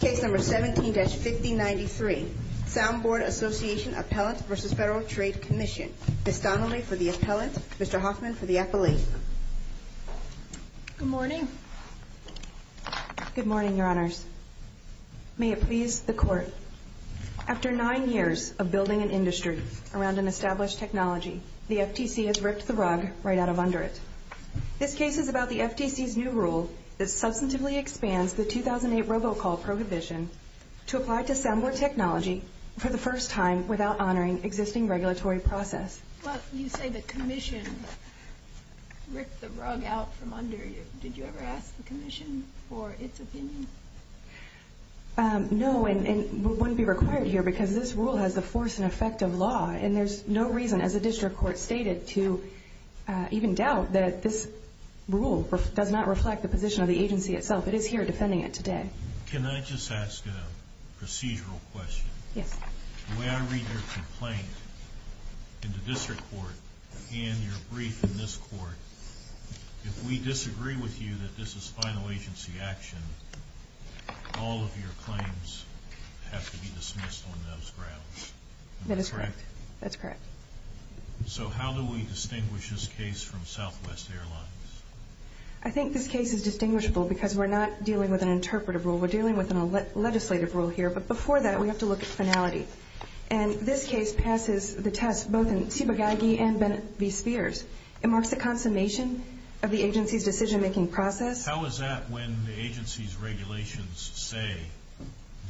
Case number 17-5093. Soundboard Association Appellant v. Federal Trade Commission. Ms. Donnelly for the appellant, Mr. Hoffman for the appellee. Good morning. Good morning, your honors. May it please the court. After nine years of building an industry around an established technology, the FTC has ripped the rug right out of under it. This case is about the FTC's new rule that substantively expands the 2008 robocall prohibition to apply to soundboard technology for the first time without honoring existing regulatory process. Well, you say the commission ripped the rug out from under it. Did you ever ask the commission for its opinion? No, and it wouldn't be required here because this rule has the force and effect of law, and there's no reason, as the district court stated, to even doubt that this rule does not reflect the position of the agency itself. It is here defending it today. Can I just ask a procedural question? Yes. The way I read your complaint in the district court and your brief in this court, if we disagree with you that this is final agency action, all of your claims have to be dismissed on those grounds. That is correct. That's correct. So how do we distinguish this case from other cases? This case is distinguishable because we're not dealing with an interpretive rule. We're dealing with a legislative rule here. But before that, we have to look at finality. And this case passes the test both in Tsibagagi and Bennett v. Spears. It marks the consummation of the agency's decision making process. How is that when the agency's regulations say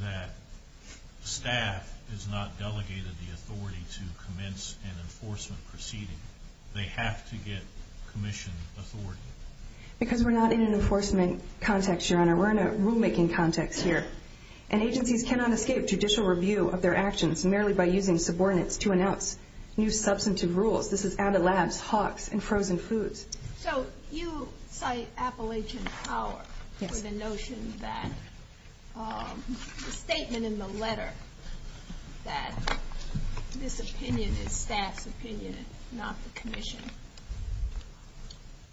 that staff is not delegated the authority to commence an enforcement proceeding? They have to get commission authority. Because we're not in an enforcement context, Your Honor. We're in a rule making context here. And agencies cannot escape judicial review of their actions merely by using subordinates to announce new substantive rules. This is out of labs, hawks, and frozen foods. So you cite Appalachian Power for the notion that the statement in the letter that this is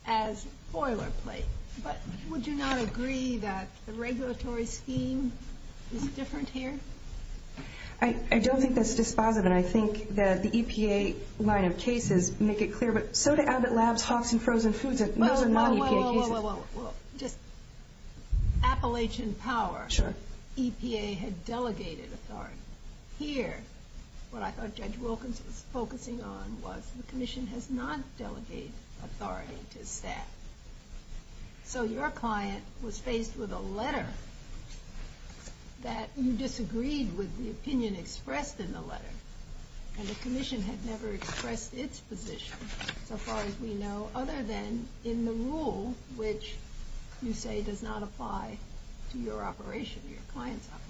a boilerplate. But would you not agree that the regulatory scheme is different here? I don't think that's dispositive. And I think that the EPA line of cases make it clear. But so do Abbott Labs, hawks, and frozen foods. Those are not EPA cases. Well, well, well, well, well, well. Just Appalachian Power. Sure. EPA had delegated authority. Here, what I thought Judge Wilkins was focusing on was the commission has not delegated authority to staff. So your client was faced with a letter that you disagreed with the opinion expressed in the letter. And the commission had never expressed its position, so far as we know, other than in the rule which you say does not apply to your operation, your client's operation.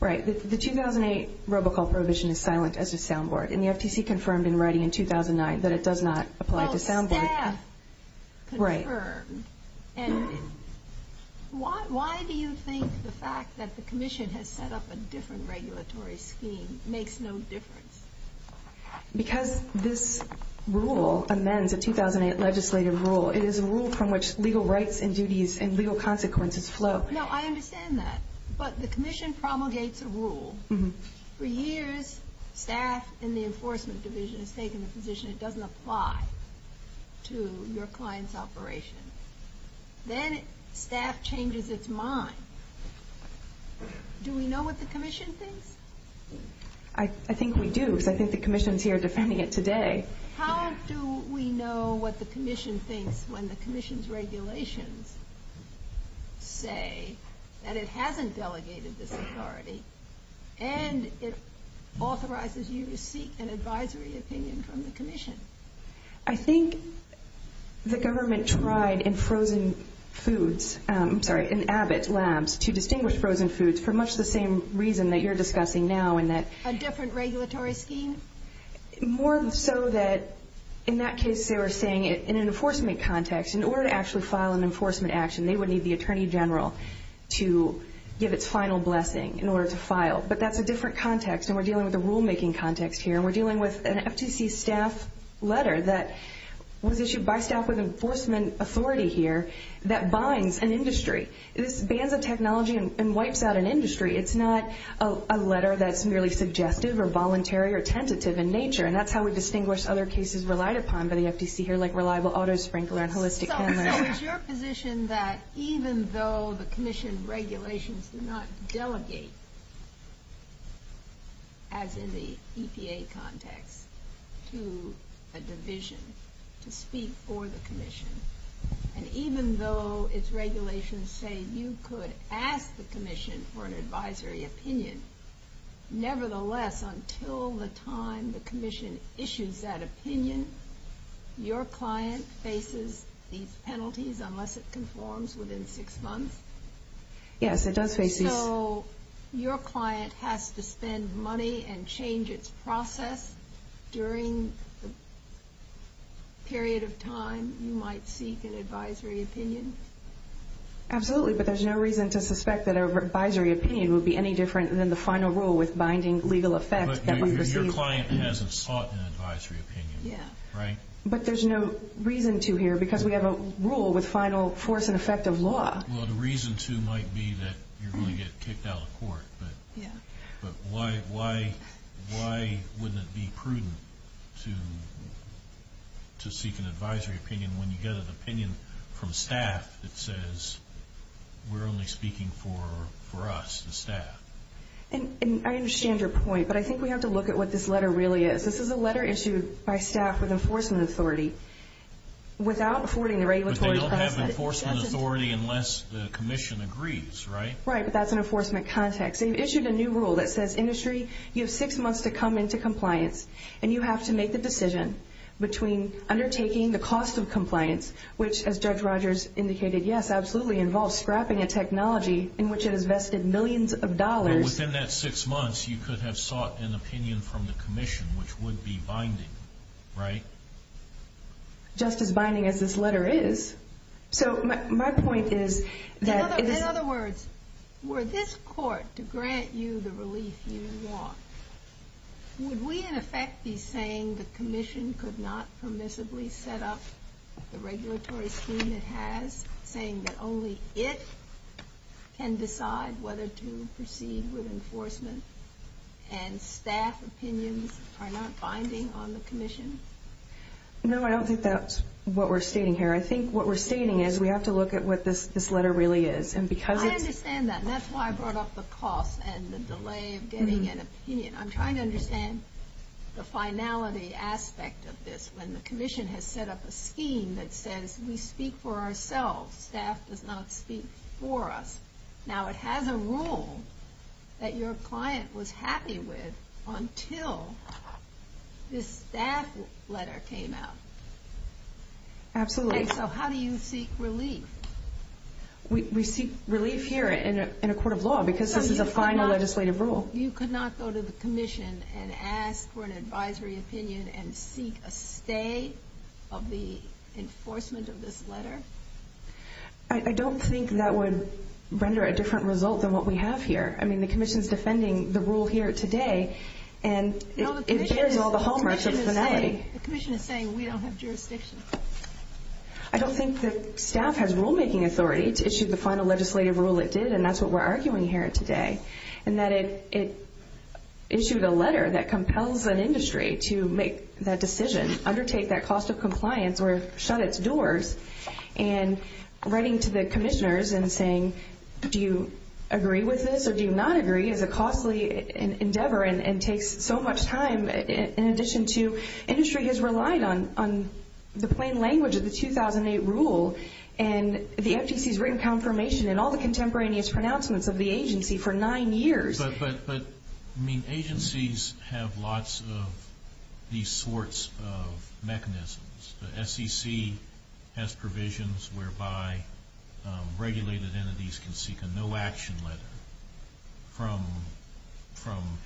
Right. The 2008 robocall prohibition is silent as a soundboard. And the FTC confirmed in writing in 2009 that it does not apply to soundboard. Well, staff confirmed. Right. And why do you think the fact that the commission has set up a different regulatory scheme makes no difference? Because this rule amends a 2008 legislative rule. It is a rule from which legal rights and duties and legal consequences flow. No, I understand that. But the commission promulgates a rule. For years, staff in the enforcement division has taken the position it doesn't apply to your client's operation. Then staff changes its mind. Do we know what the commission thinks? I think we do, because I think the commission's here defending it today. How do we know what the commission thinks when the commission's regulations say that it hasn't delegated this authority and it authorizes you to seek an advisory opinion from the commission? I think the government tried in frozen foods, I'm sorry, in Abbott Labs to distinguish frozen foods for much the same reason that you're discussing now, in that... A different regulatory scheme? More so that, in that case, they were saying in an enforcement context, in order to actually file an enforcement action, they would need the attorney general to give its final blessing in order to file. But that's a different context, and we're dealing with a rule making context here, and we're dealing with an FTC staff letter that was issued by staff with enforcement authority here that binds an industry. This bans a technology and wipes out an industry. It's not a letter that's merely suggestive or voluntary or tentative in nature, and that's how we distinguish other cases relied upon by the FTC here, like reliable auto sprinkler and holistic handling. So it's your position that even though the commission regulations do not delegate, as in the EPA context, to a division to speak for the commission, and even though its regulations say you could ask the commission for an advisory opinion, nevertheless, until the time the commission issues that decision. So your client faces these penalties unless it conforms within six months? Yes, it does face these. So your client has to spend money and change its process during the period of time you might seek an advisory opinion? Absolutely, but there's no reason to suspect that an advisory opinion would be any different than the final rule with binding legal effect. But your client hasn't sought an advisory opinion, right? Yeah. But there's no reason to here, because we have a rule with final force and effect of law. Well, the reason to might be that you're going to get kicked out of court, but why wouldn't it be prudent to seek an advisory opinion when you get an opinion from staff that says we're only speaking for us, the staff? And I understand your point, but I think we have to look at what this letter really is. This is a letter issued by staff with enforcement authority without affording the regulatory process. But they don't have enforcement authority unless the commission agrees, right? Right, but that's an enforcement context. They've issued a new rule that says, industry, you have six months to come into compliance, and you have to make the decision between undertaking the cost of compliance, which, as Judge Rogers indicated, yes, absolutely involves scrapping a technology in which it has vested millions of dollars. But within that six months, you could have an opinion from the commission, which would be binding, right? Just as binding as this letter is. So my point is that... In other words, were this court to grant you the relief you want, would we, in effect, be saying the commission could not permissibly set up the regulatory scheme it has, saying that only it can decide whether to proceed with enforcement, and staff opinions are not binding on the commission? No, I don't think that's what we're stating here. I think what we're stating is we have to look at what this letter really is, and because it's... I understand that, and that's why I brought up the cost and the delay of getting an opinion. I'm trying to understand the finality aspect of this, when the commission has set up a scheme that says, we speak for ourselves, staff does not speak for us. Now, it has a rule that your client was happy with until this staff letter came out. Absolutely. And so how do you seek relief? We seek relief here in a court of law, because this is a final legislative rule. You could not go to the commission and ask for an advisory opinion and seek a stay of the enforcement of this letter? I don't think that would render a different result than what we have here. The commission's defending the rule here today, and it bears all the hallmarks of finality. The commission is saying we don't have jurisdiction. I don't think that staff has rule making authority to issue the final legislative rule it did, and that's what we're arguing here today, and that it issued a letter that compels an industry to make that decision, undertake that cost of compliance, or shut its doors. And writing to the commissioners and saying, do you agree with this or do you not agree, is a costly endeavor and takes so much time. In addition to, industry has relied on the plain language of the 2008 rule, and the FTC's written confirmation in all the contemporaneous pronouncements of the agency for nine years. But, I mean, agencies have lots of these sorts of mechanisms. The SEC has provisions whereby regulated entities can seek a no action letter from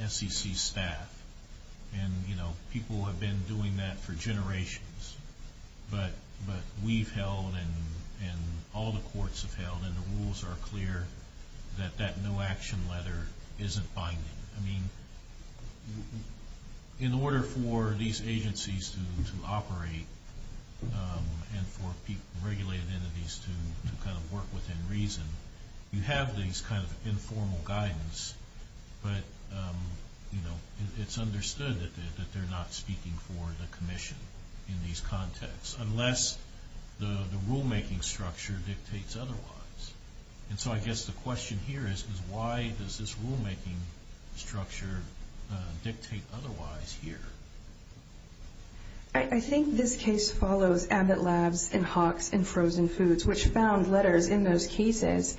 SEC staff. And people have been doing that for generations, but we've held, and all the courts have held, and the rules are clear that that no action letter isn't binding. I mean, in order for these agencies to operate, and for regulated entities to kind of work within reason, you have these kind of informal guidance, but it's understood that they're not speaking for the commission in these contexts, unless the rule making structure dictates otherwise. And so, I guess the question here is, is why does this rule making structure dictate otherwise here? I think this case follows Abbott Labs, and Hawks, and Frozen Foods, which found letters in those cases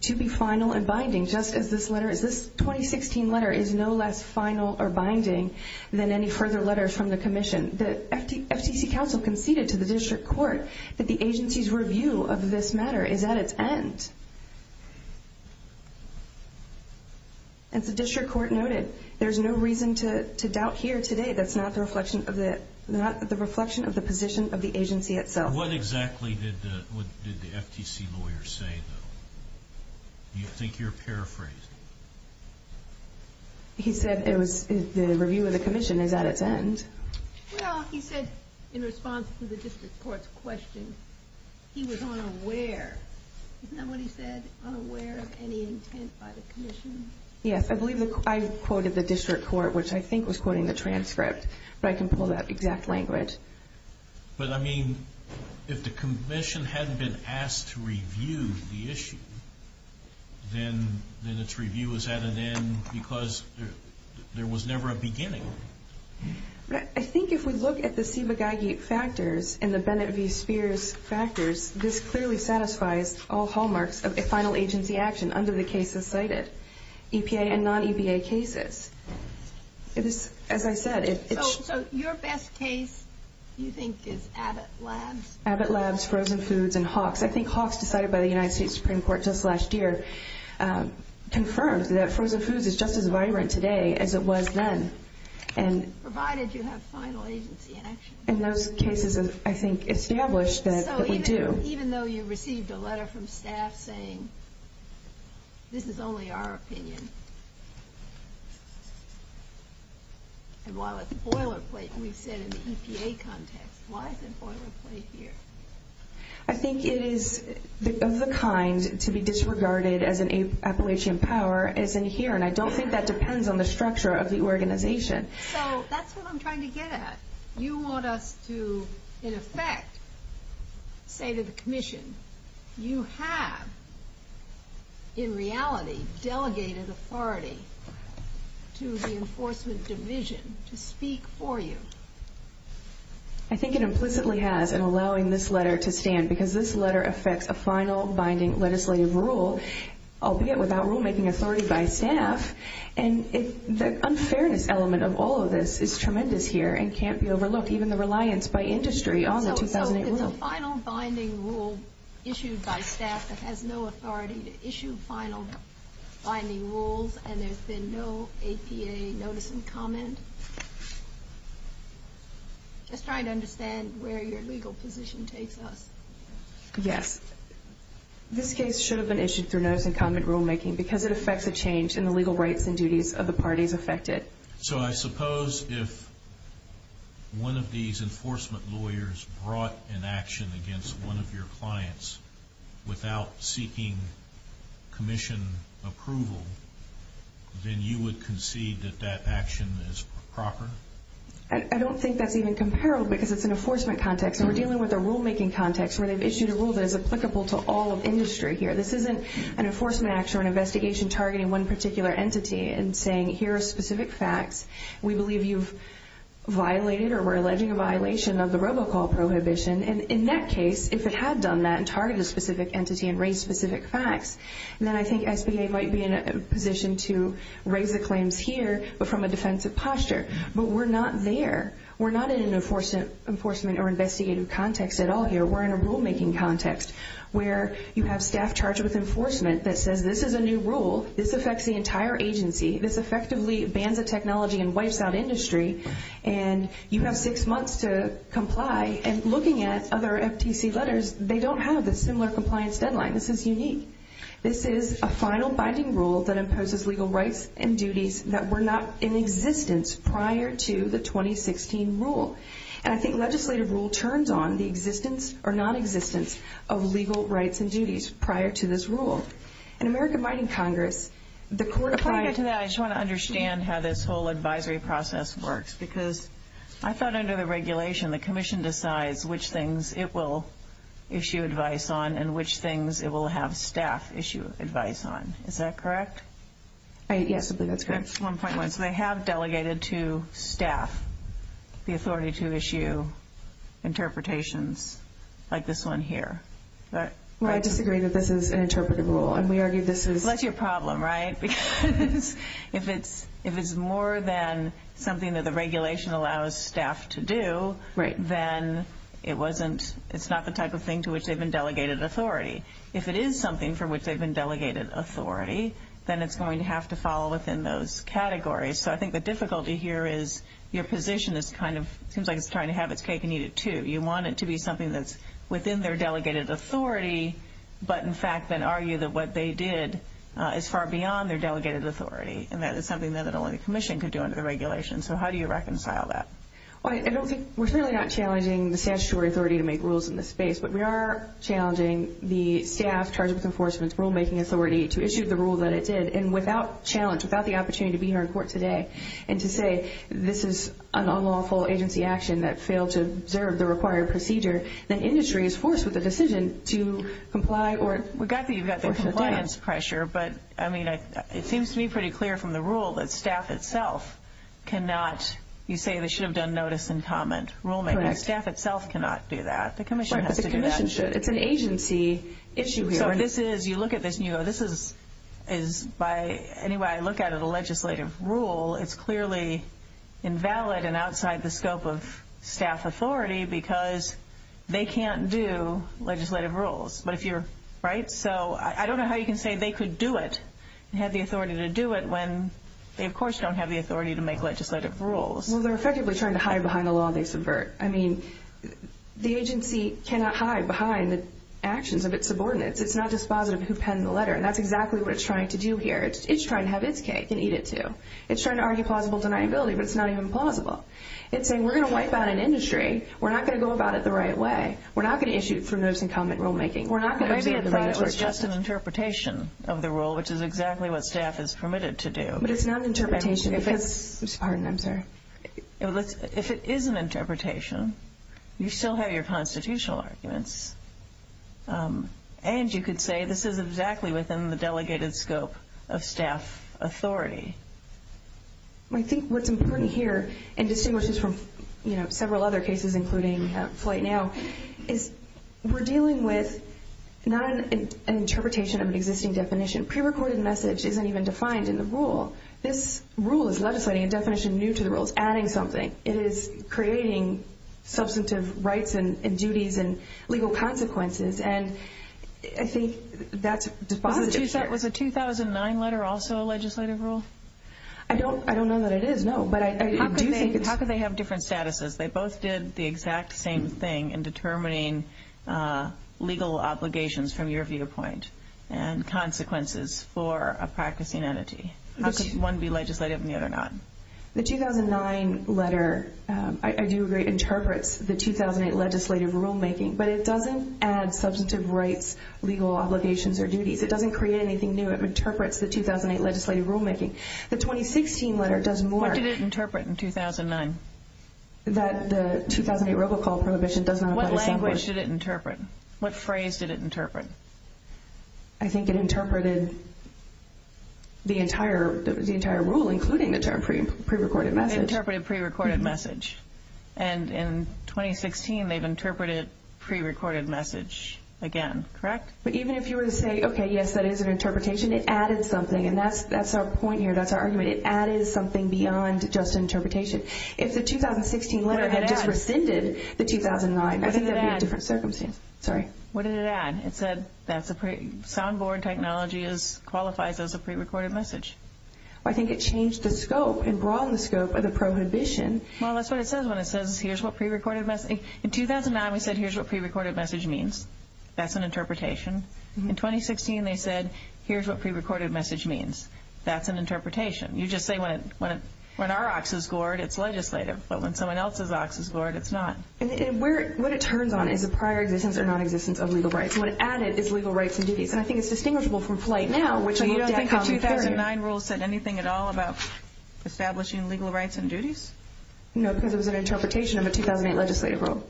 to be final and binding, just as this letter is. This 2016 letter is no less final or binding than any further letters from the commission. The FTC council conceded to the district court that the agency's review of this matter is at its end. And the district court noted, there's no reason to doubt here today, that's not the reflection of the position of the agency itself. What exactly did the FTC lawyer say, though? Do you think you're paraphrasing? He said the review of the commission is at its end. Well, he said, in response to the district court's question, he was unaware. Isn't that what he said? Unaware of any intent by the commission? Yes, I believe I quoted the district court, which I think was quoting the transcript, but I can pull that exact language. But, I mean, if the commission hadn't been asked to review the issue, then its review was at an end because there was never a beginning. I think if we look at the Ciba-Geigy factors and the Bennett v. Final Agency action under the cases cited, EPA and non-EPA cases, as I said... So your best case, you think, is Abbott Labs? Abbott Labs, Frozen Foods, and Hawks. I think Hawks, decided by the United States Supreme Court just last year, confirmed that Frozen Foods is just as vibrant today as it was then. Provided you have Final Agency in action. And those cases, I think, established that it would do. So even though you received a statement saying, this is only our opinion. And while it's a boilerplate, we said in the EPA context, why is it a boilerplate here? I think it is of the kind to be disregarded as an Appalachian power, as in here. And I don't think that depends on the structure of the organization. So that's what I'm trying to get at. You want us to, in effect, say to the Commission, you have, in reality, delegated authority to the Enforcement Division to speak for you. I think it implicitly has, in allowing this letter to stand. Because this letter affects a final binding legislative rule, albeit without rule making authority by staff. And the unfairness element of all of this is tremendous here, and can't be overlooked. Even the reliance by industry on the 2008 rule. So it's a final binding rule issued by staff that has no authority to issue final binding rules, and there's been no APA notice and comment? Just trying to understand where your legal position takes us. Yes. This case should have been issued through notice and comment rule making, because it affects a change in the legal rights and duties of the parties affected. So I suppose if one of these enforcement lawyers brought an action against one of your clients without seeking Commission approval, then you would concede that that action is proper? I don't think that's even comparable, because it's an enforcement context. And we're dealing with a rule making context, where they've issued a rule that is applicable to all of industry here. This isn't an enforcement action or an investigation targeting one particular entity and saying, here are specific facts. We believe you've violated or were alleging a violation of the robocall prohibition. And in that case, if it had done that and targeted a specific entity and raised specific facts, then I think SBA might be in a position to raise the claims here, but from a defensive posture. But we're not there. We're not in an enforcement or investigative context at all here. We're in a rule making context, where you have staff charged with enforcement that says, this is a new rule. This affects the entire agency. This effectively bans a technology and wipes out industry. And you have six months to comply. And looking at other FTC letters, they don't have the similar compliance deadline. This is unique. This is a final binding rule that imposes legal rights and duties that were not in existence prior to the 2016 rule. And I think legislative rule turns on the existence or non-existence of legal rights and duties prior to this rule. In American Binding Congress, the court... Before I get to that, I just want to understand how this whole advisory process works. Because I thought under the regulation, the Commission decides which things it will issue advice on and which things it will have staff issue advice on. Is that correct? Yes, I believe that's correct. Interpretations, like this one here. Well, I disagree that this is an interpretive rule. And we argue this is... Well, that's your problem, right? Because if it's more than something that the regulation allows staff to do, then it's not the type of thing to which they've been delegated authority. If it is something for which they've been delegated authority, then it's going to have to fall within those categories. So I think the difficulty here is, your position is kind of... I think you need it, too. You want it to be something that's within their delegated authority, but in fact, then argue that what they did is far beyond their delegated authority. And that is something that only the Commission could do under the regulation. So how do you reconcile that? Well, I don't think... We're certainly not challenging the statutory authority to make rules in this space, but we are challenging the staff charged with enforcement's rulemaking authority to issue the rule that it did. And without challenge, without the opportunity to be here in court today, and to say this is an unlawful agency action that failed to observe the required procedure, then industry is forced with a decision to comply or... We got that you've got the compliance pressure, but I mean, it seems to me pretty clear from the rule that staff itself cannot... You say they should have done notice and comment rulemaking. Correct. Staff itself cannot do that. The Commission has to do that. Right, but the Commission should. It's an agency issue here. So this is... You look at this and you go, this is... Anyway, I look at it, a legislative rule, it's clearly invalid and outside the scope of staff authority because they can't do legislative rules. But if you're... Right? So I don't know how you can say they could do it and have the authority to do it when they, of course, don't have the authority to make legislative rules. Well, they're effectively trying to hide behind a law they subvert. I mean, the agency cannot hide behind the actions of its subordinates. It's not dispositive who penned the letter, and that's exactly what it's due here. It's trying to have its cake and eat it too. It's trying to argue plausible deniability, but it's not even plausible. It's saying, we're gonna wipe out an industry. We're not gonna go about it the right way. We're not gonna issue for notice and comment rulemaking. We're not gonna... Maybe it was just an interpretation of the rule, which is exactly what staff is permitted to do. But it's not an interpretation if it's... Pardon, I'm sorry. If it is an interpretation, you still have your constitutional arguments. And you could say this is exactly within the delegated scope of staff authority. I think what's important here, and distinguishes from several other cases, including Flight Now, is we're dealing with not an interpretation of an existing definition. Pre recorded message isn't even defined in the rule. This rule is legislating a definition new to the rules, adding something. It is creating substantive rights and duties and legal requirements and legal consequences. And I think that's a positive here. Was the 2009 letter also a legislative rule? I don't know that it is, no. But I do think it's... How could they have different statuses? They both did the exact same thing in determining legal obligations from your viewpoint, and consequences for a practicing entity. How could one be legislative and the other not? The 2009 letter, I do agree, interprets the 2008 legislative rulemaking, but it doesn't add substantive rights, legal obligations, or duties. It doesn't create anything new. It interprets the 2008 legislative rulemaking. The 2016 letter does more. What did it interpret in 2009? That the 2008 robocall prohibition does not apply to... What language did it interpret? What phrase did it interpret? I think it interpreted the entire rule, including the term pre recorded message. It interpreted the pre recorded message. And in 2016, they've interpreted pre recorded message again, correct? But even if you were to say, okay, yes, that is an interpretation, it added something. And that's our point here, that's our argument. It added something beyond just interpretation. If the 2016 letter had just rescinded the 2009, I think that'd be a different circumstance. Sorry. What did it add? It said that's a... Soundboard technology qualifies as a pre recorded message. I think it changed the scope and broadened the scope of the prohibition. Well, that's what it says when it says, here's what pre recorded message... In 2009, we said, here's what pre recorded message means. That's an interpretation. In 2016, they said, here's what pre recorded message means. That's an interpretation. You just say when our ox is gored, it's legislative, but when someone else's ox is gored, it's not. What it turns on is the prior existence or nonexistence of legal rights. What it added is legal rights and duties. Establishing legal rights and duties? No, because it was an interpretation of a 2008 legislative rule.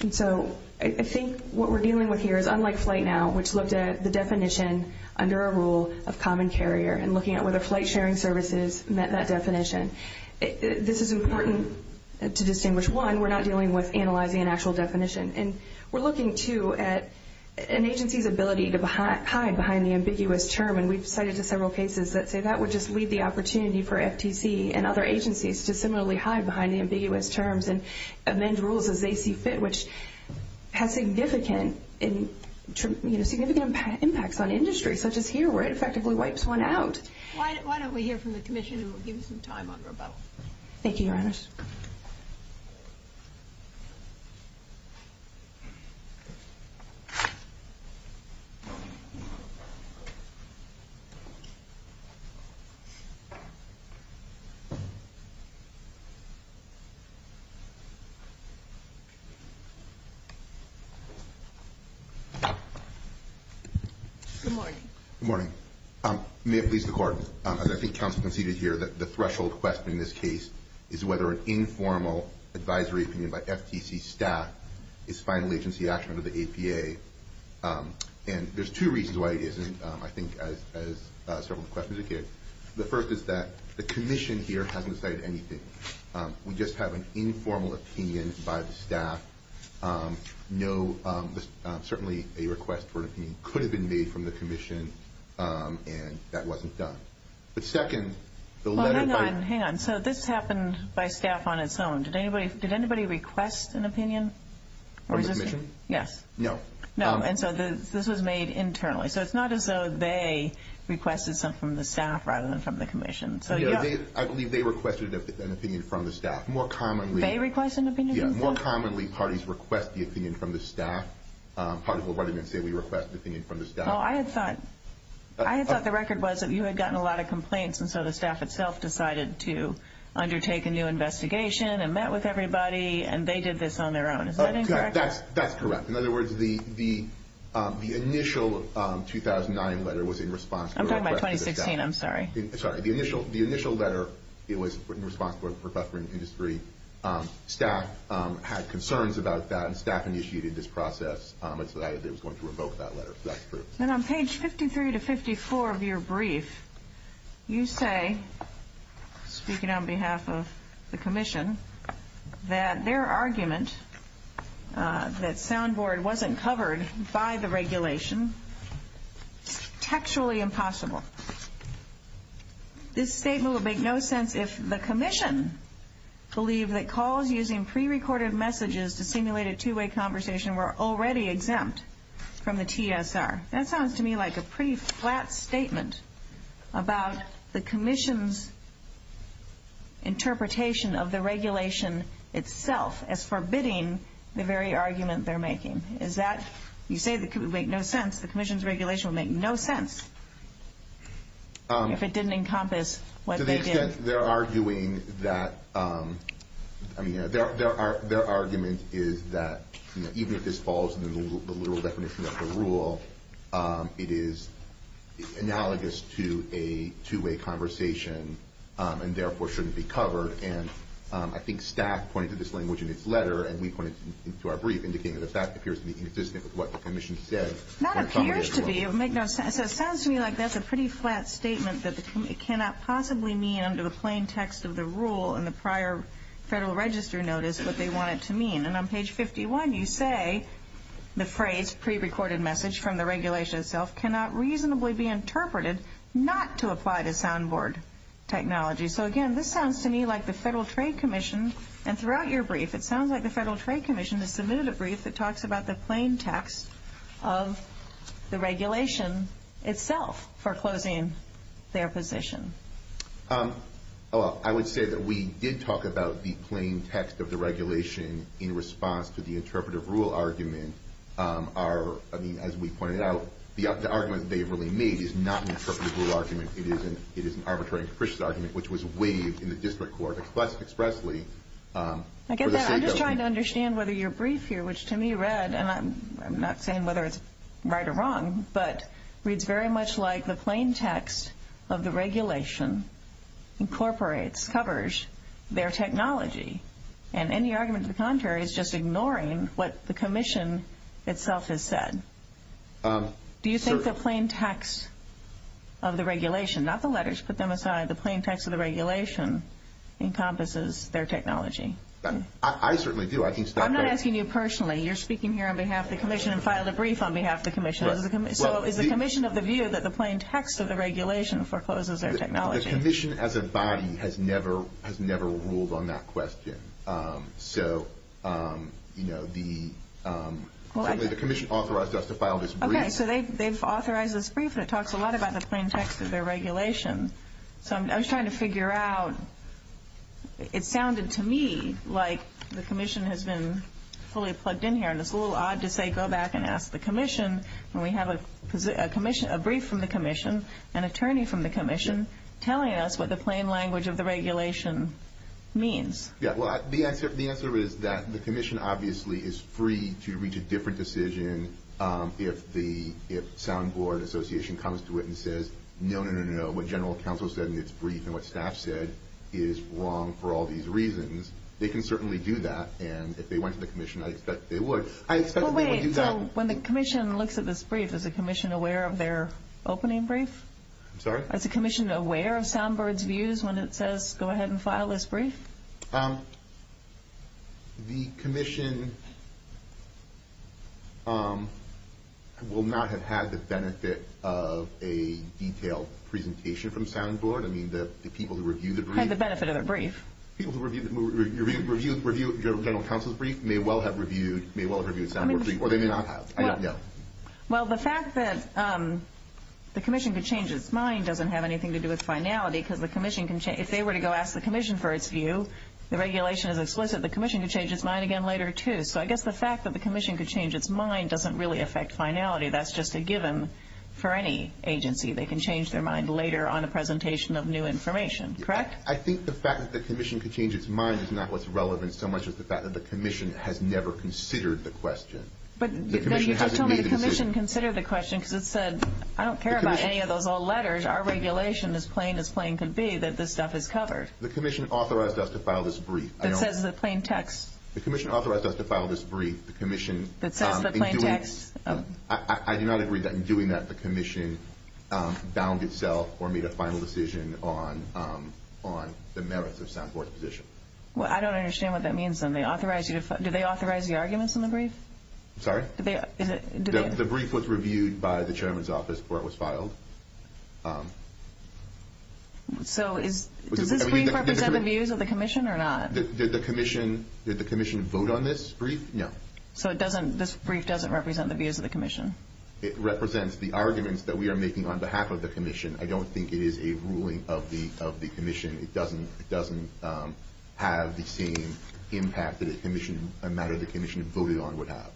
And so I think what we're dealing with here is unlike flight now, which looked at the definition under a rule of common carrier and looking at whether flight sharing services met that definition. This is important to distinguish one, we're not dealing with analyzing an actual definition. And we're looking too at an agency's ability to hide behind the ambiguous term. And we've cited to several cases that say that would just leave the opportunity for FTC and other agencies to similarly hide behind the ambiguous terms and amend rules as they see fit, which has significant impacts on industries such as here, where it effectively wipes one out. Why don't we hear from the commission who will give us some time on rebuttal? Thank you, Your Honors. Good morning. May it please the Court, as I think counsel conceded here, that the threshold question in this case is whether an informal advisory opinion by FTC staff is final agency action under the APA. And there's two reasons why it isn't, I think, as several of the questions indicated. The first is that the commission here hasn't cited anything. We just have an informal opinion by the staff. Certainly a request for an opinion could have been made from the commission, and that wasn't done. But second, the letter... Hang on. So this happened by staff on its own. Did anybody request an opinion? From the commission? Yes. No. No. And so this was made internally. So it's not as though they requested something from the staff rather than from the commission. I believe they requested an opinion from the staff. More commonly... They requested an opinion from the staff? Yeah. More commonly, parties request the opinion from the staff. Part of what I meant to say, we request the opinion from the staff. I had thought the record was that you had gotten a lot of complaints, and so the staff itself decided to undertake a new investigation and met with everybody, and they did this on their own. Is that incorrect? That's correct. In other words, the initial 2009 letter was in response to... I'm talking about 2016. I'm sorry. Sorry. The initial letter, it was in response to a rebuttal from industry. Staff had concerns about that, and staff initiated this process, and so that was going to revoke that letter. That's correct. Then on page 53 to 54 of your brief, you say, speaking on behalf of the commission, that their argument, that soundboard wasn't covered by the regulation, textually impossible. This statement would make no sense if the commission believed that calls using pre-recorded messages to simulate a two-way conversation were already exempt from the TSR. That sounds to me like a pretty flat statement about the commission's interpretation of the regulation itself as forbidding the very argument they're making. Is that... You say that it would make no sense. The commission's regulation would make no sense if it didn't encompass what they did. To the extent they're arguing that... Their argument is that even if this falls in the literal definition of the rule, it is analogous to a two-way conversation, and therefore shouldn't be covered. And I think staff pointed to this language in its letter, and we pointed to our brief, indicating that the fact appears to be inconsistent with what the commission said. That appears to be. It would make no sense. It sounds to me like that's a pretty flat statement that the committee cannot possibly mean under the plain text of the rule in the prior federal register notice what they want it to mean. And on the other hand, the recorded message from the regulation itself cannot reasonably be interpreted not to apply to soundboard technology. So again, this sounds to me like the Federal Trade Commission, and throughout your brief, it sounds like the Federal Trade Commission has submitted a brief that talks about the plain text of the regulation itself for closing their position. I would say that we did talk about the plain text of the regulation in response to the interpretive rule argument. As we pointed out, the argument they've really made is not an interpretive rule argument. It is an arbitrary and capricious argument, which was waived in the district court expressly. I get that. I'm just trying to understand whether your brief here, which to me read, and I'm not saying whether it's right or wrong, but reads very much like the plain text of the regulation incorporates, covers their technology. And any argument to the contrary is just ignoring what the commission itself has said. Do you think the plain text of the regulation, not the letters, put them aside, the plain text of the regulation encompasses their technology? I certainly do. I'm not asking you personally. You're speaking here on behalf of the commission and filed a brief on behalf of the commission. So is the commission of the view that the plain text of the regulation forecloses their technology? The commission as a has never ruled on that question. So the commission authorized us to file this brief. Okay, so they've authorized this brief and it talks a lot about the plain text of their regulation. So I was trying to figure out... It sounded to me like the commission has been fully plugged in here and it's a little odd to say, go back and ask the commission when we have a brief from the commission, an attorney from the commission telling us what the plain language of the regulation means. Yeah, well, the answer is that the commission obviously is free to reach a different decision if the Soundboard Association comes to it and says, no, no, no, no, no, what general counsel said in its brief and what staff said is wrong for all these reasons. They can certainly do that. And if they went to the commission, I expect they would. I expect they would do that. Wait, so when the commission sees one that says, go ahead and file this brief? The commission will not have had the benefit of a detailed presentation from Soundboard. I mean, the people who review the brief... Had the benefit of the brief. People who review general counsel's brief may well have reviewed Soundboard's brief, or they may not have. I don't know. Well, the fact that the commission could change its mind doesn't have anything to do with finality because the commission can change... If they were to go ask the commission for its view, the regulation is explicit, the commission could change its mind again later too. So I guess the fact that the commission could change its mind doesn't really affect finality. That's just a given for any agency. They can change their mind later on a presentation of new information, correct? I think the fact that the commission could change its mind is not what's relevant so much as the fact that the commission has never considered the question. But then you just told me the commission considered the question because it said, I don't care about any of those old letters, our regulation is plain as plain could be that this stuff is covered. The commission authorized us to file this brief. That says the plain text. The commission authorized us to file this brief. The commission... That says the plain text. I do not agree that in doing that, the commission bound itself or made a final decision on the merits of Soundboard's position. Well, I don't understand what that means then. They authorized you to... Did they authorize the arguments in the brief? I'm sorry? Did they... The brief was reviewed by the chairman's office before it was filed. So does this brief represent the views of the commission or not? Did the commission vote on this brief? No. So this brief doesn't represent the views of the commission? It represents the arguments that we are making on behalf of the commission. I don't think it is a ruling of the commission. It doesn't have the same impact that a matter the commission voted on would have.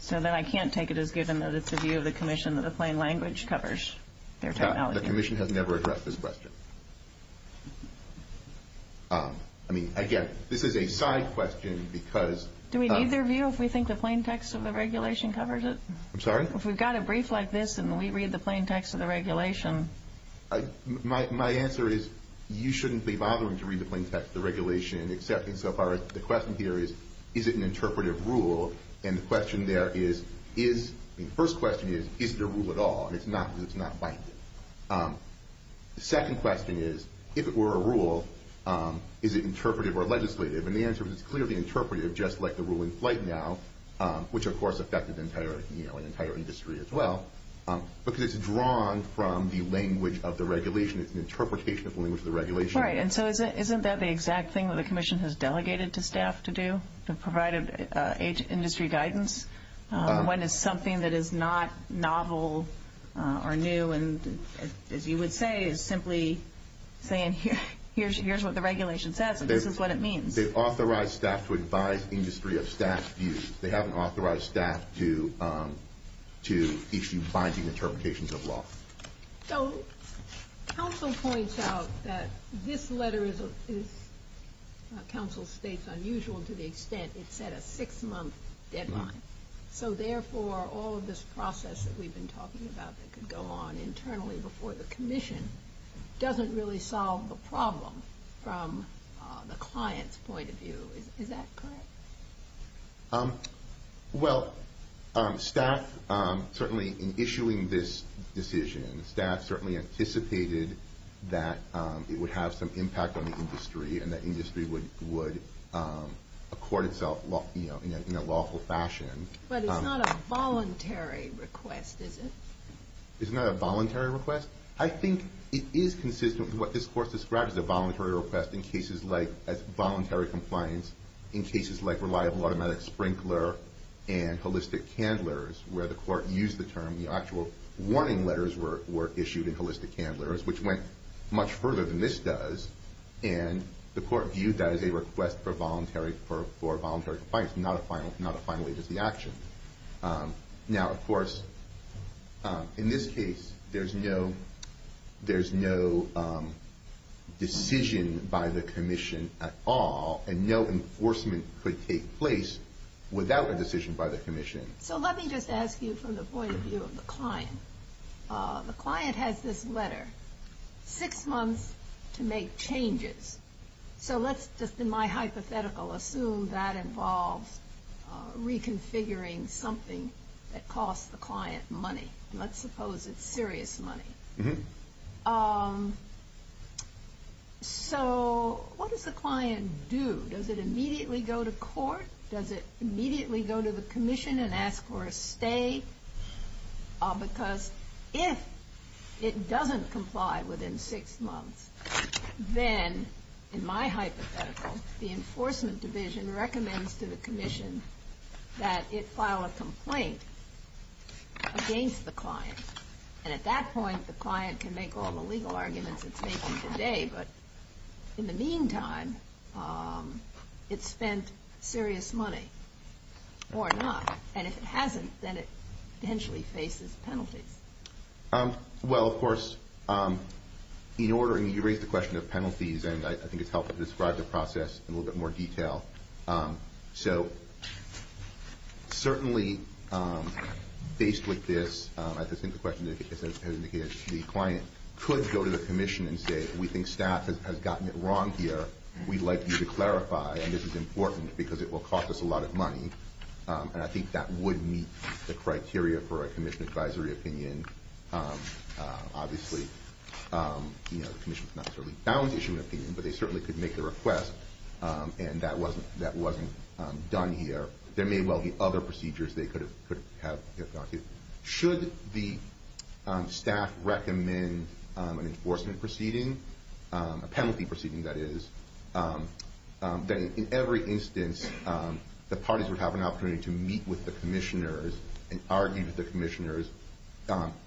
So then I can't take it as given that it's a view of the commission that the plain language covers their technology. The commission has never addressed this question. I mean, again, this is a side question because... Do we need their view if we think the plain text of the regulation covers it? I'm sorry? If we've got a brief like this and we read the plain text of the regulation... My answer is, you shouldn't be bothering to read the plain text of the regulation and accepting so far as the question here is, is it an interpretive rule? And the question there is... The first question is, is it a rule at all? And it's not because it's not binding. The second question is, if it were a rule, is it interpretive or legislative? And the answer is, it's clearly interpretive just like the ruling right now, which of course affected the entire industry as well, because it's drawn from the language of the regulation. It's an interpretation of the language of the regulation. Right. And so isn't that the exact thing that the commission has delegated to staff to do, to provide industry guidance? When it's something that is not novel or new and, as you would say, is simply saying, here's what the regulation says and this is what it means. They authorize staff to advise industry of staff views. They haven't authorized staff to issue binding interpretations of law. So, counsel points out that this letter is, counsel states, unusual to the extent it set a six month deadline. So therefore, all of this process that we've been talking about that could go on internally before the commission, doesn't really solve the problem from the client's point of view. Is that correct? Well, staff certainly in issuing this decision, staff certainly anticipated that it would have some impact on the industry and that industry would accord itself in a lawful fashion. But it's not a voluntary request, is it? It's not a voluntary request? I think it is consistent with what this court describes as a voluntary request in cases like, as voluntary compliance, in cases like reliable automatic sprinkler and holistic candlers, where the court used the term, the actual warning letters were issued in cases that went much further than this does. And the court viewed that as a request for voluntary compliance, not a final, not a final agency action. Now, of course, in this case, there's no decision by the commission at all and no enforcement could take place without a decision by the commission. So let me just ask you from the point of view of the client. The client has this letter, six months to make changes. So let's just in my hypothetical assume that involves reconfiguring something that costs the client money. Let's suppose it's serious money. So what does the client do? Does it immediately go to court? Does it immediately go to the commission and ask for a stay? Because if it doesn't comply within six months, then, in my hypothetical, the enforcement division recommends to the commission that it file a complaint against the client. And at that point, the client can make all the legal arguments it's making today, but in the meantime, it's spent serious money or not. And if it hasn't, then it potentially faces penalties. Well, of course, in order... And you raised the question of penalties, and I think it's helpful to describe the process in a little bit more detail. So certainly, based with this, I just think the question is, as indicated, the client could go to the commission and say, we think staff has gotten it wrong here. We'd like you to clarify, and this is important because it will cost us a lot of money. And I think that would meet the criteria for a commission advisory opinion. Obviously, the commission's not certainly bound to issue an opinion, but they certainly could make the request, and that wasn't done here. There may well be other procedures they could have gone to. Should the penalty proceeding, that is, that in every instance, the parties would have an opportunity to meet with the commissioners and argue with the commissioners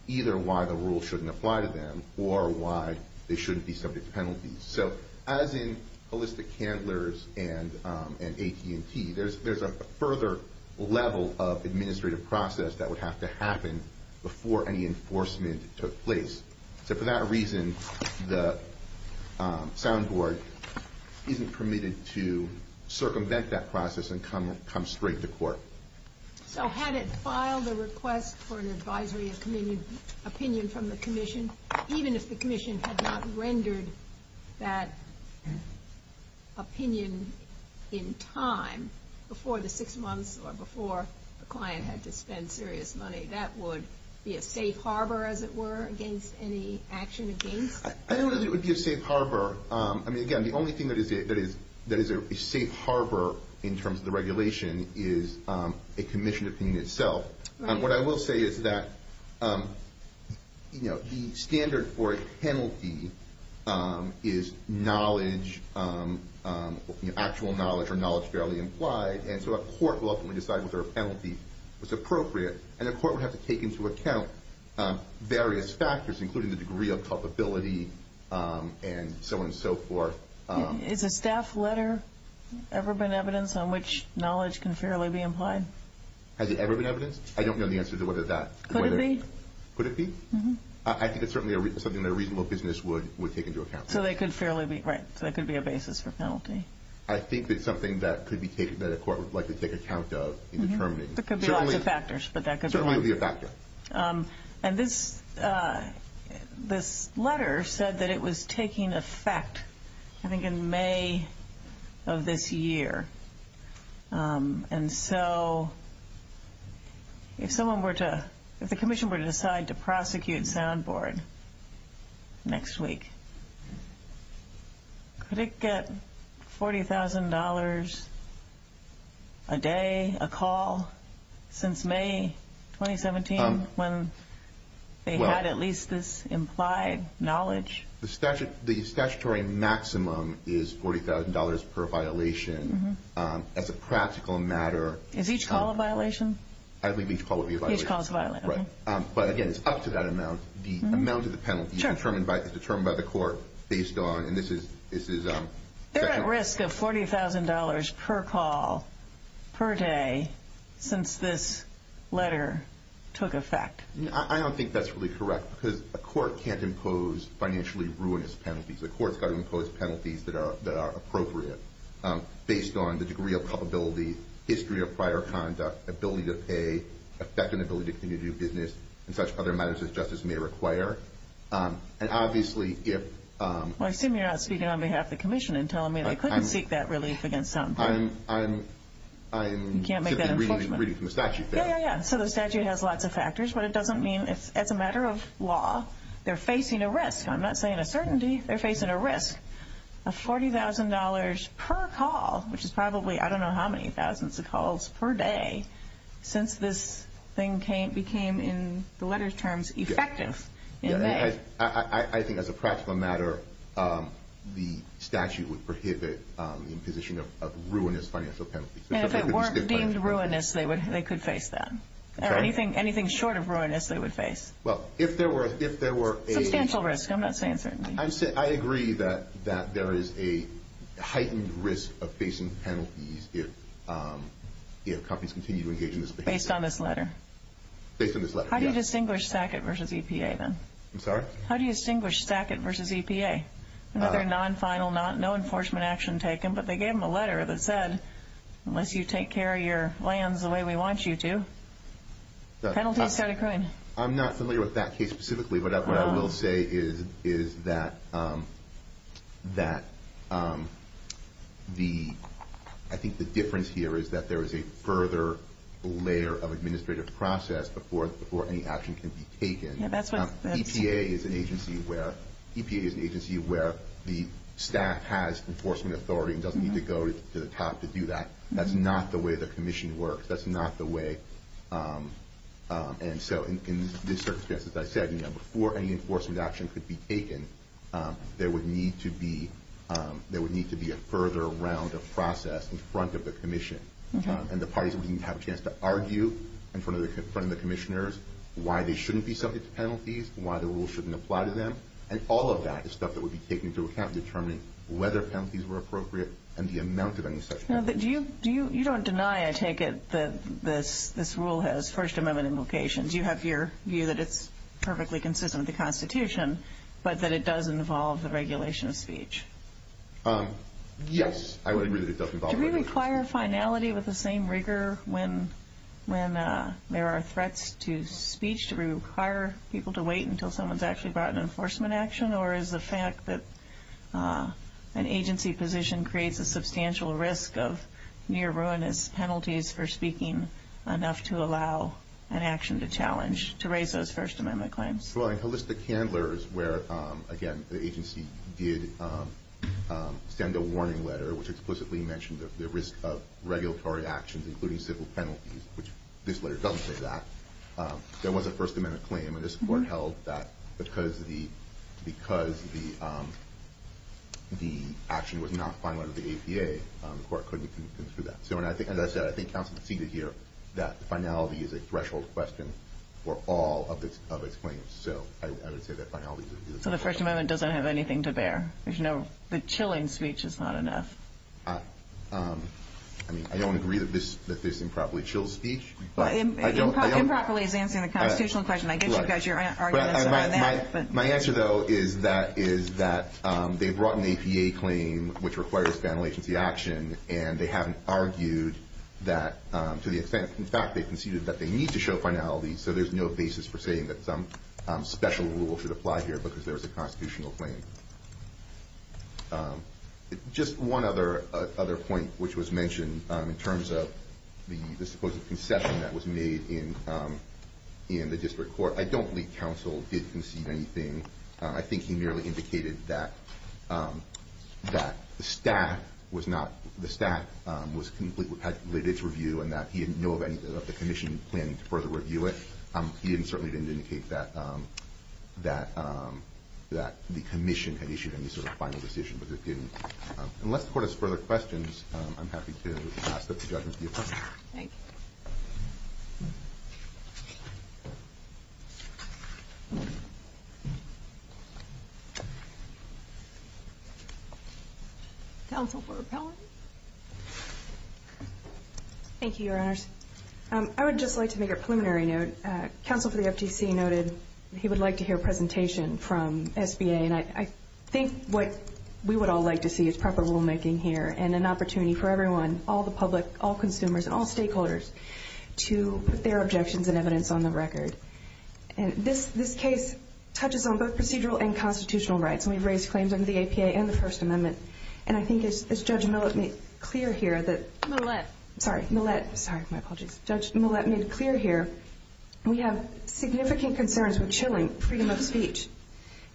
either why the rule shouldn't apply to them or why they shouldn't be subject to penalties. So as in holistic handlers and AT&T, there's a further level of administrative process that would have to happen before any enforcement took place. So for that reason, the sound board isn't permitted to circumvent that process and come straight to court. So had it filed a request for an advisory opinion from the commission, even if the commission had not rendered that opinion in time, before the six months or before the client had spent serious money, that would be a safe harbor, as it were, against any action against... I don't know if it would be a safe harbor. I mean, again, the only thing that is a safe harbor in terms of the regulation is a commission opinion itself. What I will say is that the standard for a penalty is knowledge, actual knowledge or knowledge fairly implied. And so a court will ultimately decide whether a penalty was appropriate, and a court would have to take into account various factors, including the degree of culpability and so on and so forth. Is a staff letter ever been evidence on which knowledge can fairly be implied? Has it ever been evidenced? I don't know the answer to whether that... Could it be? Could it be? I think it's certainly something that a reasonable business would take into account. So they could fairly be... Right. So that could be a basis for penalty. I think that's something that could be taken... That a court would likely take account of in determining. There could be lots of factors, but that could be... Certainly be a factor. And this letter said that it was taking effect, I think, in May of this year. And so if someone were to... If the commission were to decide to prosecute Soundboard next week, could it get $40,000 a day, a call, since May 2017, when they had at least this implied knowledge? The statutory maximum is $40,000 per violation. As a practical matter... Is each call a violation? I believe each call would be a violation. Each call's a violation. Right. But again, it's up to that amount. The amount of the penalty is determined by the court based on... And this is... They're at risk of $40,000 per call per day since this letter took effect. I don't think that's really correct because a court can't impose financially ruinous penalties. A court's got to impose penalties that are appropriate based on the degree of culpability, history of prior conduct, ability to pay, effect and ability to continue to do business, and such other matters that justice may require. And obviously, if... I assume you're not speaking on behalf of the commission and telling me they couldn't seek that relief against Soundboard. I'm simply reading from the statute there. Yeah, yeah, yeah. So the statute has lots of factors, but it doesn't mean it's... As a matter of law, they're facing a risk. I'm not saying a certainty. They're facing a risk of $40,000 per call, which is probably, I don't know how many thousands of calls per day, since this thing became, in the letter's terms, effective in May. I think as a practical matter, the statute would prohibit the imposition of ruinous financial penalties. And if it weren't deemed ruinous, they could face that. Okay. Anything short of ruinous, they would face. Well, if there were a... Substantial risk. I'm not saying certainty. I agree that there is a heightened risk of facing penalties if companies continue to engage in this behavior. Based on this letter? Based on this letter, yeah. How do you distinguish SACIT versus EPA, then? I'm sorry? How do you distinguish SACIT versus EPA? Another non final, no enforcement action taken, but they gave them a letter that said, unless you take care of your lands the way we want you to, penalties start occurring. I'm not familiar with that case specifically, but what I will say is that I think the difference here is that there is a further layer of administrative process before any action can be taken. Yeah, that's what... EPA is an agency where the staff has enforcement authority and doesn't need to go to the top to do that. That's not the way the commission works. That's not the way... And so in this circumstance, as I said, before any enforcement action could be taken, there would need to be... There would need to be a further round of process in front of the commission, and the parties would even have a chance to argue in front of the commissioners why they shouldn't be subject to penalties, why the rules shouldn't apply to them. And all of that is stuff that would be taken into account in determining whether penalties were appropriate and the amount of any such penalties. You don't deny, I take it, that this rule has First Amendment implications. You have your view that it's perfectly consistent with the Constitution, but that it does involve the regulation of speech. Yes, I would agree that it does involve... Do we require finality with the same rigor when there are threats to speech? Do we require people to wait until someone's actually brought an enforcement action, or is the fact that an agency position creates a substantial risk of near ruinous penalties for speaking enough to allow an action to challenge, to raise those First Amendment claims? Well, in Hallista Candler's where, again, the agency did send a warning letter which explicitly mentioned the risk of regulatory actions, including civil penalties, which this letter doesn't say that, there was a First Amendment claim, and this court held that because the action was not final under the APA, the court couldn't do that. So as I said, I think counsel conceded here that the finality is a threshold question for all of its claims. So I would say that finality... So the First Amendment doesn't have anything to bear. There's no... The chilling speech is not enough. I mean, I don't agree that this improperly chills speech, but... Improperly is answering the constitutional question. I get you guys your arguments on that, but... My answer, though, is that they brought an APA claim which requires final agency action, and they haven't argued that to the extent... In fact, they conceded that they need to show finality, so there's no basis for saying that some special rule should apply here because there was a constitutional claim. Just one other point which was mentioned in terms of the supposed concession that was made in the district court. I don't believe counsel did concede anything. I think he merely indicated that the stat was completely... Had littered its review and that he didn't know of the commission planning to further review it. He certainly didn't indicate that the commission had issued any sort of final decision, but it didn't. Unless the court has further questions, I'm happy to pass up the judgment of the appellant. Thank you. Counsel for repellent? Thank you, Your Honors. I would just like to make a preliminary note. Counsel for the FTC noted he would like to hear a presentation from SBA, and I think what we would all like to see is proper rule making here, and an opportunity for everyone, all the public, all consumers, and all stakeholders to put their objections and evidence on the record. And this case touches on both procedural and constitutional rights, and we've raised claims under the APA and the First Amendment. And I think as Judge Millett made clear here that... Millett. Sorry, Millett. Sorry, my apologies. Judge Millett made clear here, we have significant concerns with chilling freedom of speech.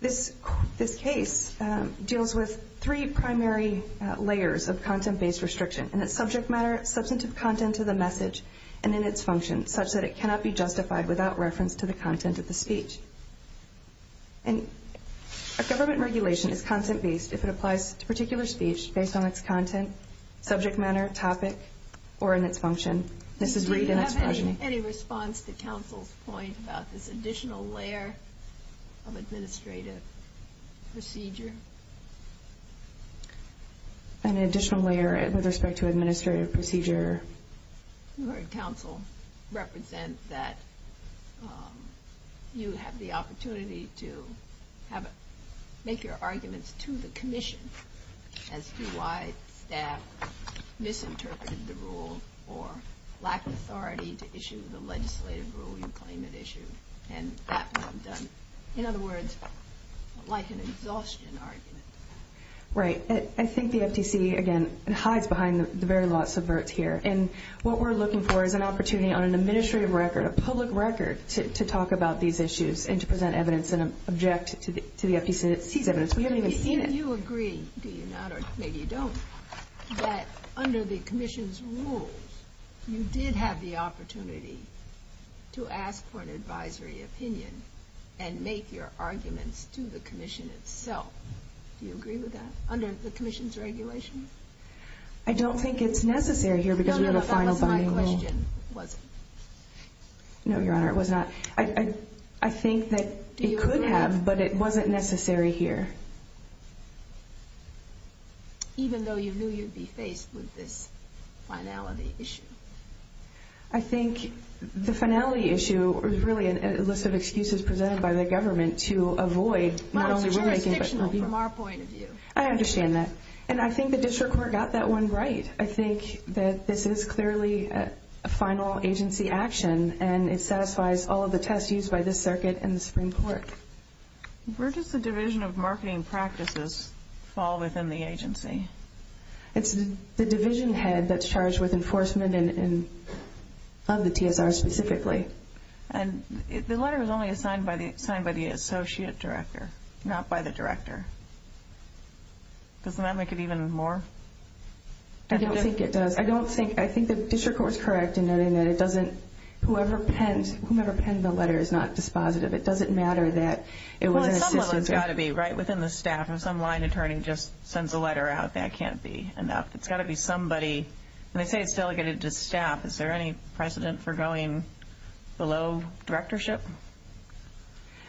This case deals with three primary layers of content based restriction, in its subject matter, substantive content to the message, and in its function, such that it cannot be justified without reference to the content of the speech. And a government regulation is content based if it applies to particular speech based on its content, subject matter, topic, or in its function. This is read in its... Do you have any response to Council's point about this additional layer of administrative procedure? An additional layer with respect to administrative procedure? You heard Council represent that you have the opportunity to make your arguments to the Commission as to why staff misinterpreted the legislative rule you claim had issued, and that would have done... In other words, like an exhaustion argument. Right. I think the FTC, again, hides behind the very law subverts here. And what we're looking for is an opportunity on an administrative record, a public record, to talk about these issues and to present evidence and object to the FTC's evidence. We haven't even seen it. Do you agree, do you not, or maybe you don't, that under the Commission's rules, you did have the opportunity to ask for an advisory opinion and make your arguments to the Commission itself? Do you agree with that, under the Commission's regulation? I don't think it's necessary here because we have a final... No, no, that was my question. Was it? No, Your Honor, it was not. I think that it could have, but it wasn't necessary here. Even though you knew you'd be faced with this finality issue? I think the finality issue was really a list of excuses presented by the government to avoid... Well, it's jurisdictional from our point of view. I understand that. And I think the district court got that one right. I think that this is clearly a final agency action and it satisfies all of the tests used by this circuit and the Supreme Court. Where does the Division of Marketing Practices fall within the division of the TSR specifically? And the letter was only assigned by the associate director, not by the director. Doesn't that make it even more... I don't think it does. I don't think... I think the district court's correct in noting that it doesn't... Whoever penned... Whomever penned the letter is not dispositive. It doesn't matter that it was an assistant... Well, at some level, it's gotta be right within the staff. If some line attorney just sends a letter out, that can't be enough. It's gotta be somebody... And they say it's delegated to staff. Is there any precedent for going below directorship?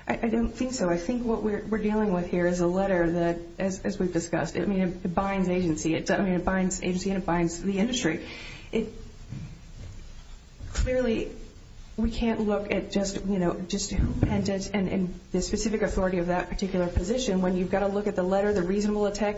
I don't think so. I think what we're dealing with here is a letter that, as we've discussed, it binds agency. It binds agency and it binds the industry. Clearly, we can't look at just who penned it and the specific authority of that particular position when you've gotta look at the letter, the reasonable intent,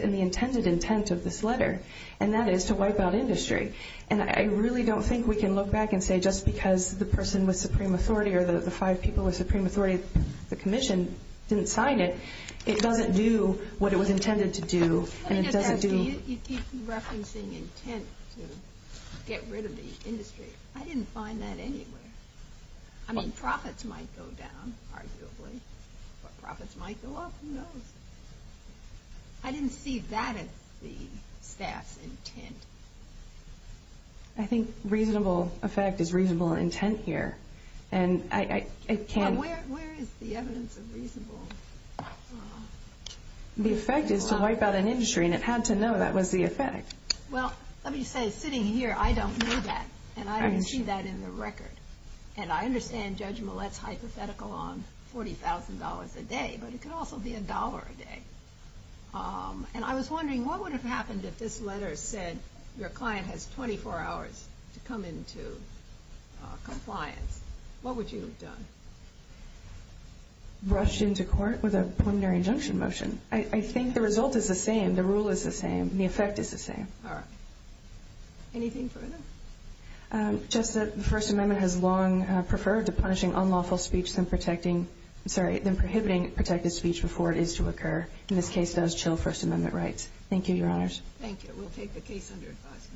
and the intended intent of this letter. And that is to wipe out industry. And I really don't think we can look back and say, just because the person with supreme authority or the five people with supreme authority at the commission didn't sign it, it doesn't do what it was intended to do, and it doesn't do... You keep referencing intent to get rid of the industry. I didn't find that anywhere. I mean, profits might go down, arguably, but profits might go up, who knows? I didn't see that as the staff's intent. I think reasonable effect is reasonable intent here, and I can't... Where is the evidence of reasonable... The effect is to wipe out an industry, and it had to know that was the effect. Well, let me say, sitting here, I don't know that, and I don't see that in the record. And I understand Judge Millett's hypothetical on $40,000 a day, but it could also be $1 a day. And I was wondering, what would have happened if this letter said, your client has 24 hours to come into compliance? What would you have done? Rushed into court with a preliminary injunction motion. I think the result is the same, the rule is the same, and the effect is the same. Alright. Anything further? Justice, the First Amendment has long preferred to punishing unlawful speech than protecting... Sorry, than prohibiting protected speech before it is to occur. In this case, it does chill First Amendment rights. Thank you, Your Honors. Thank you. We'll take the case under advice.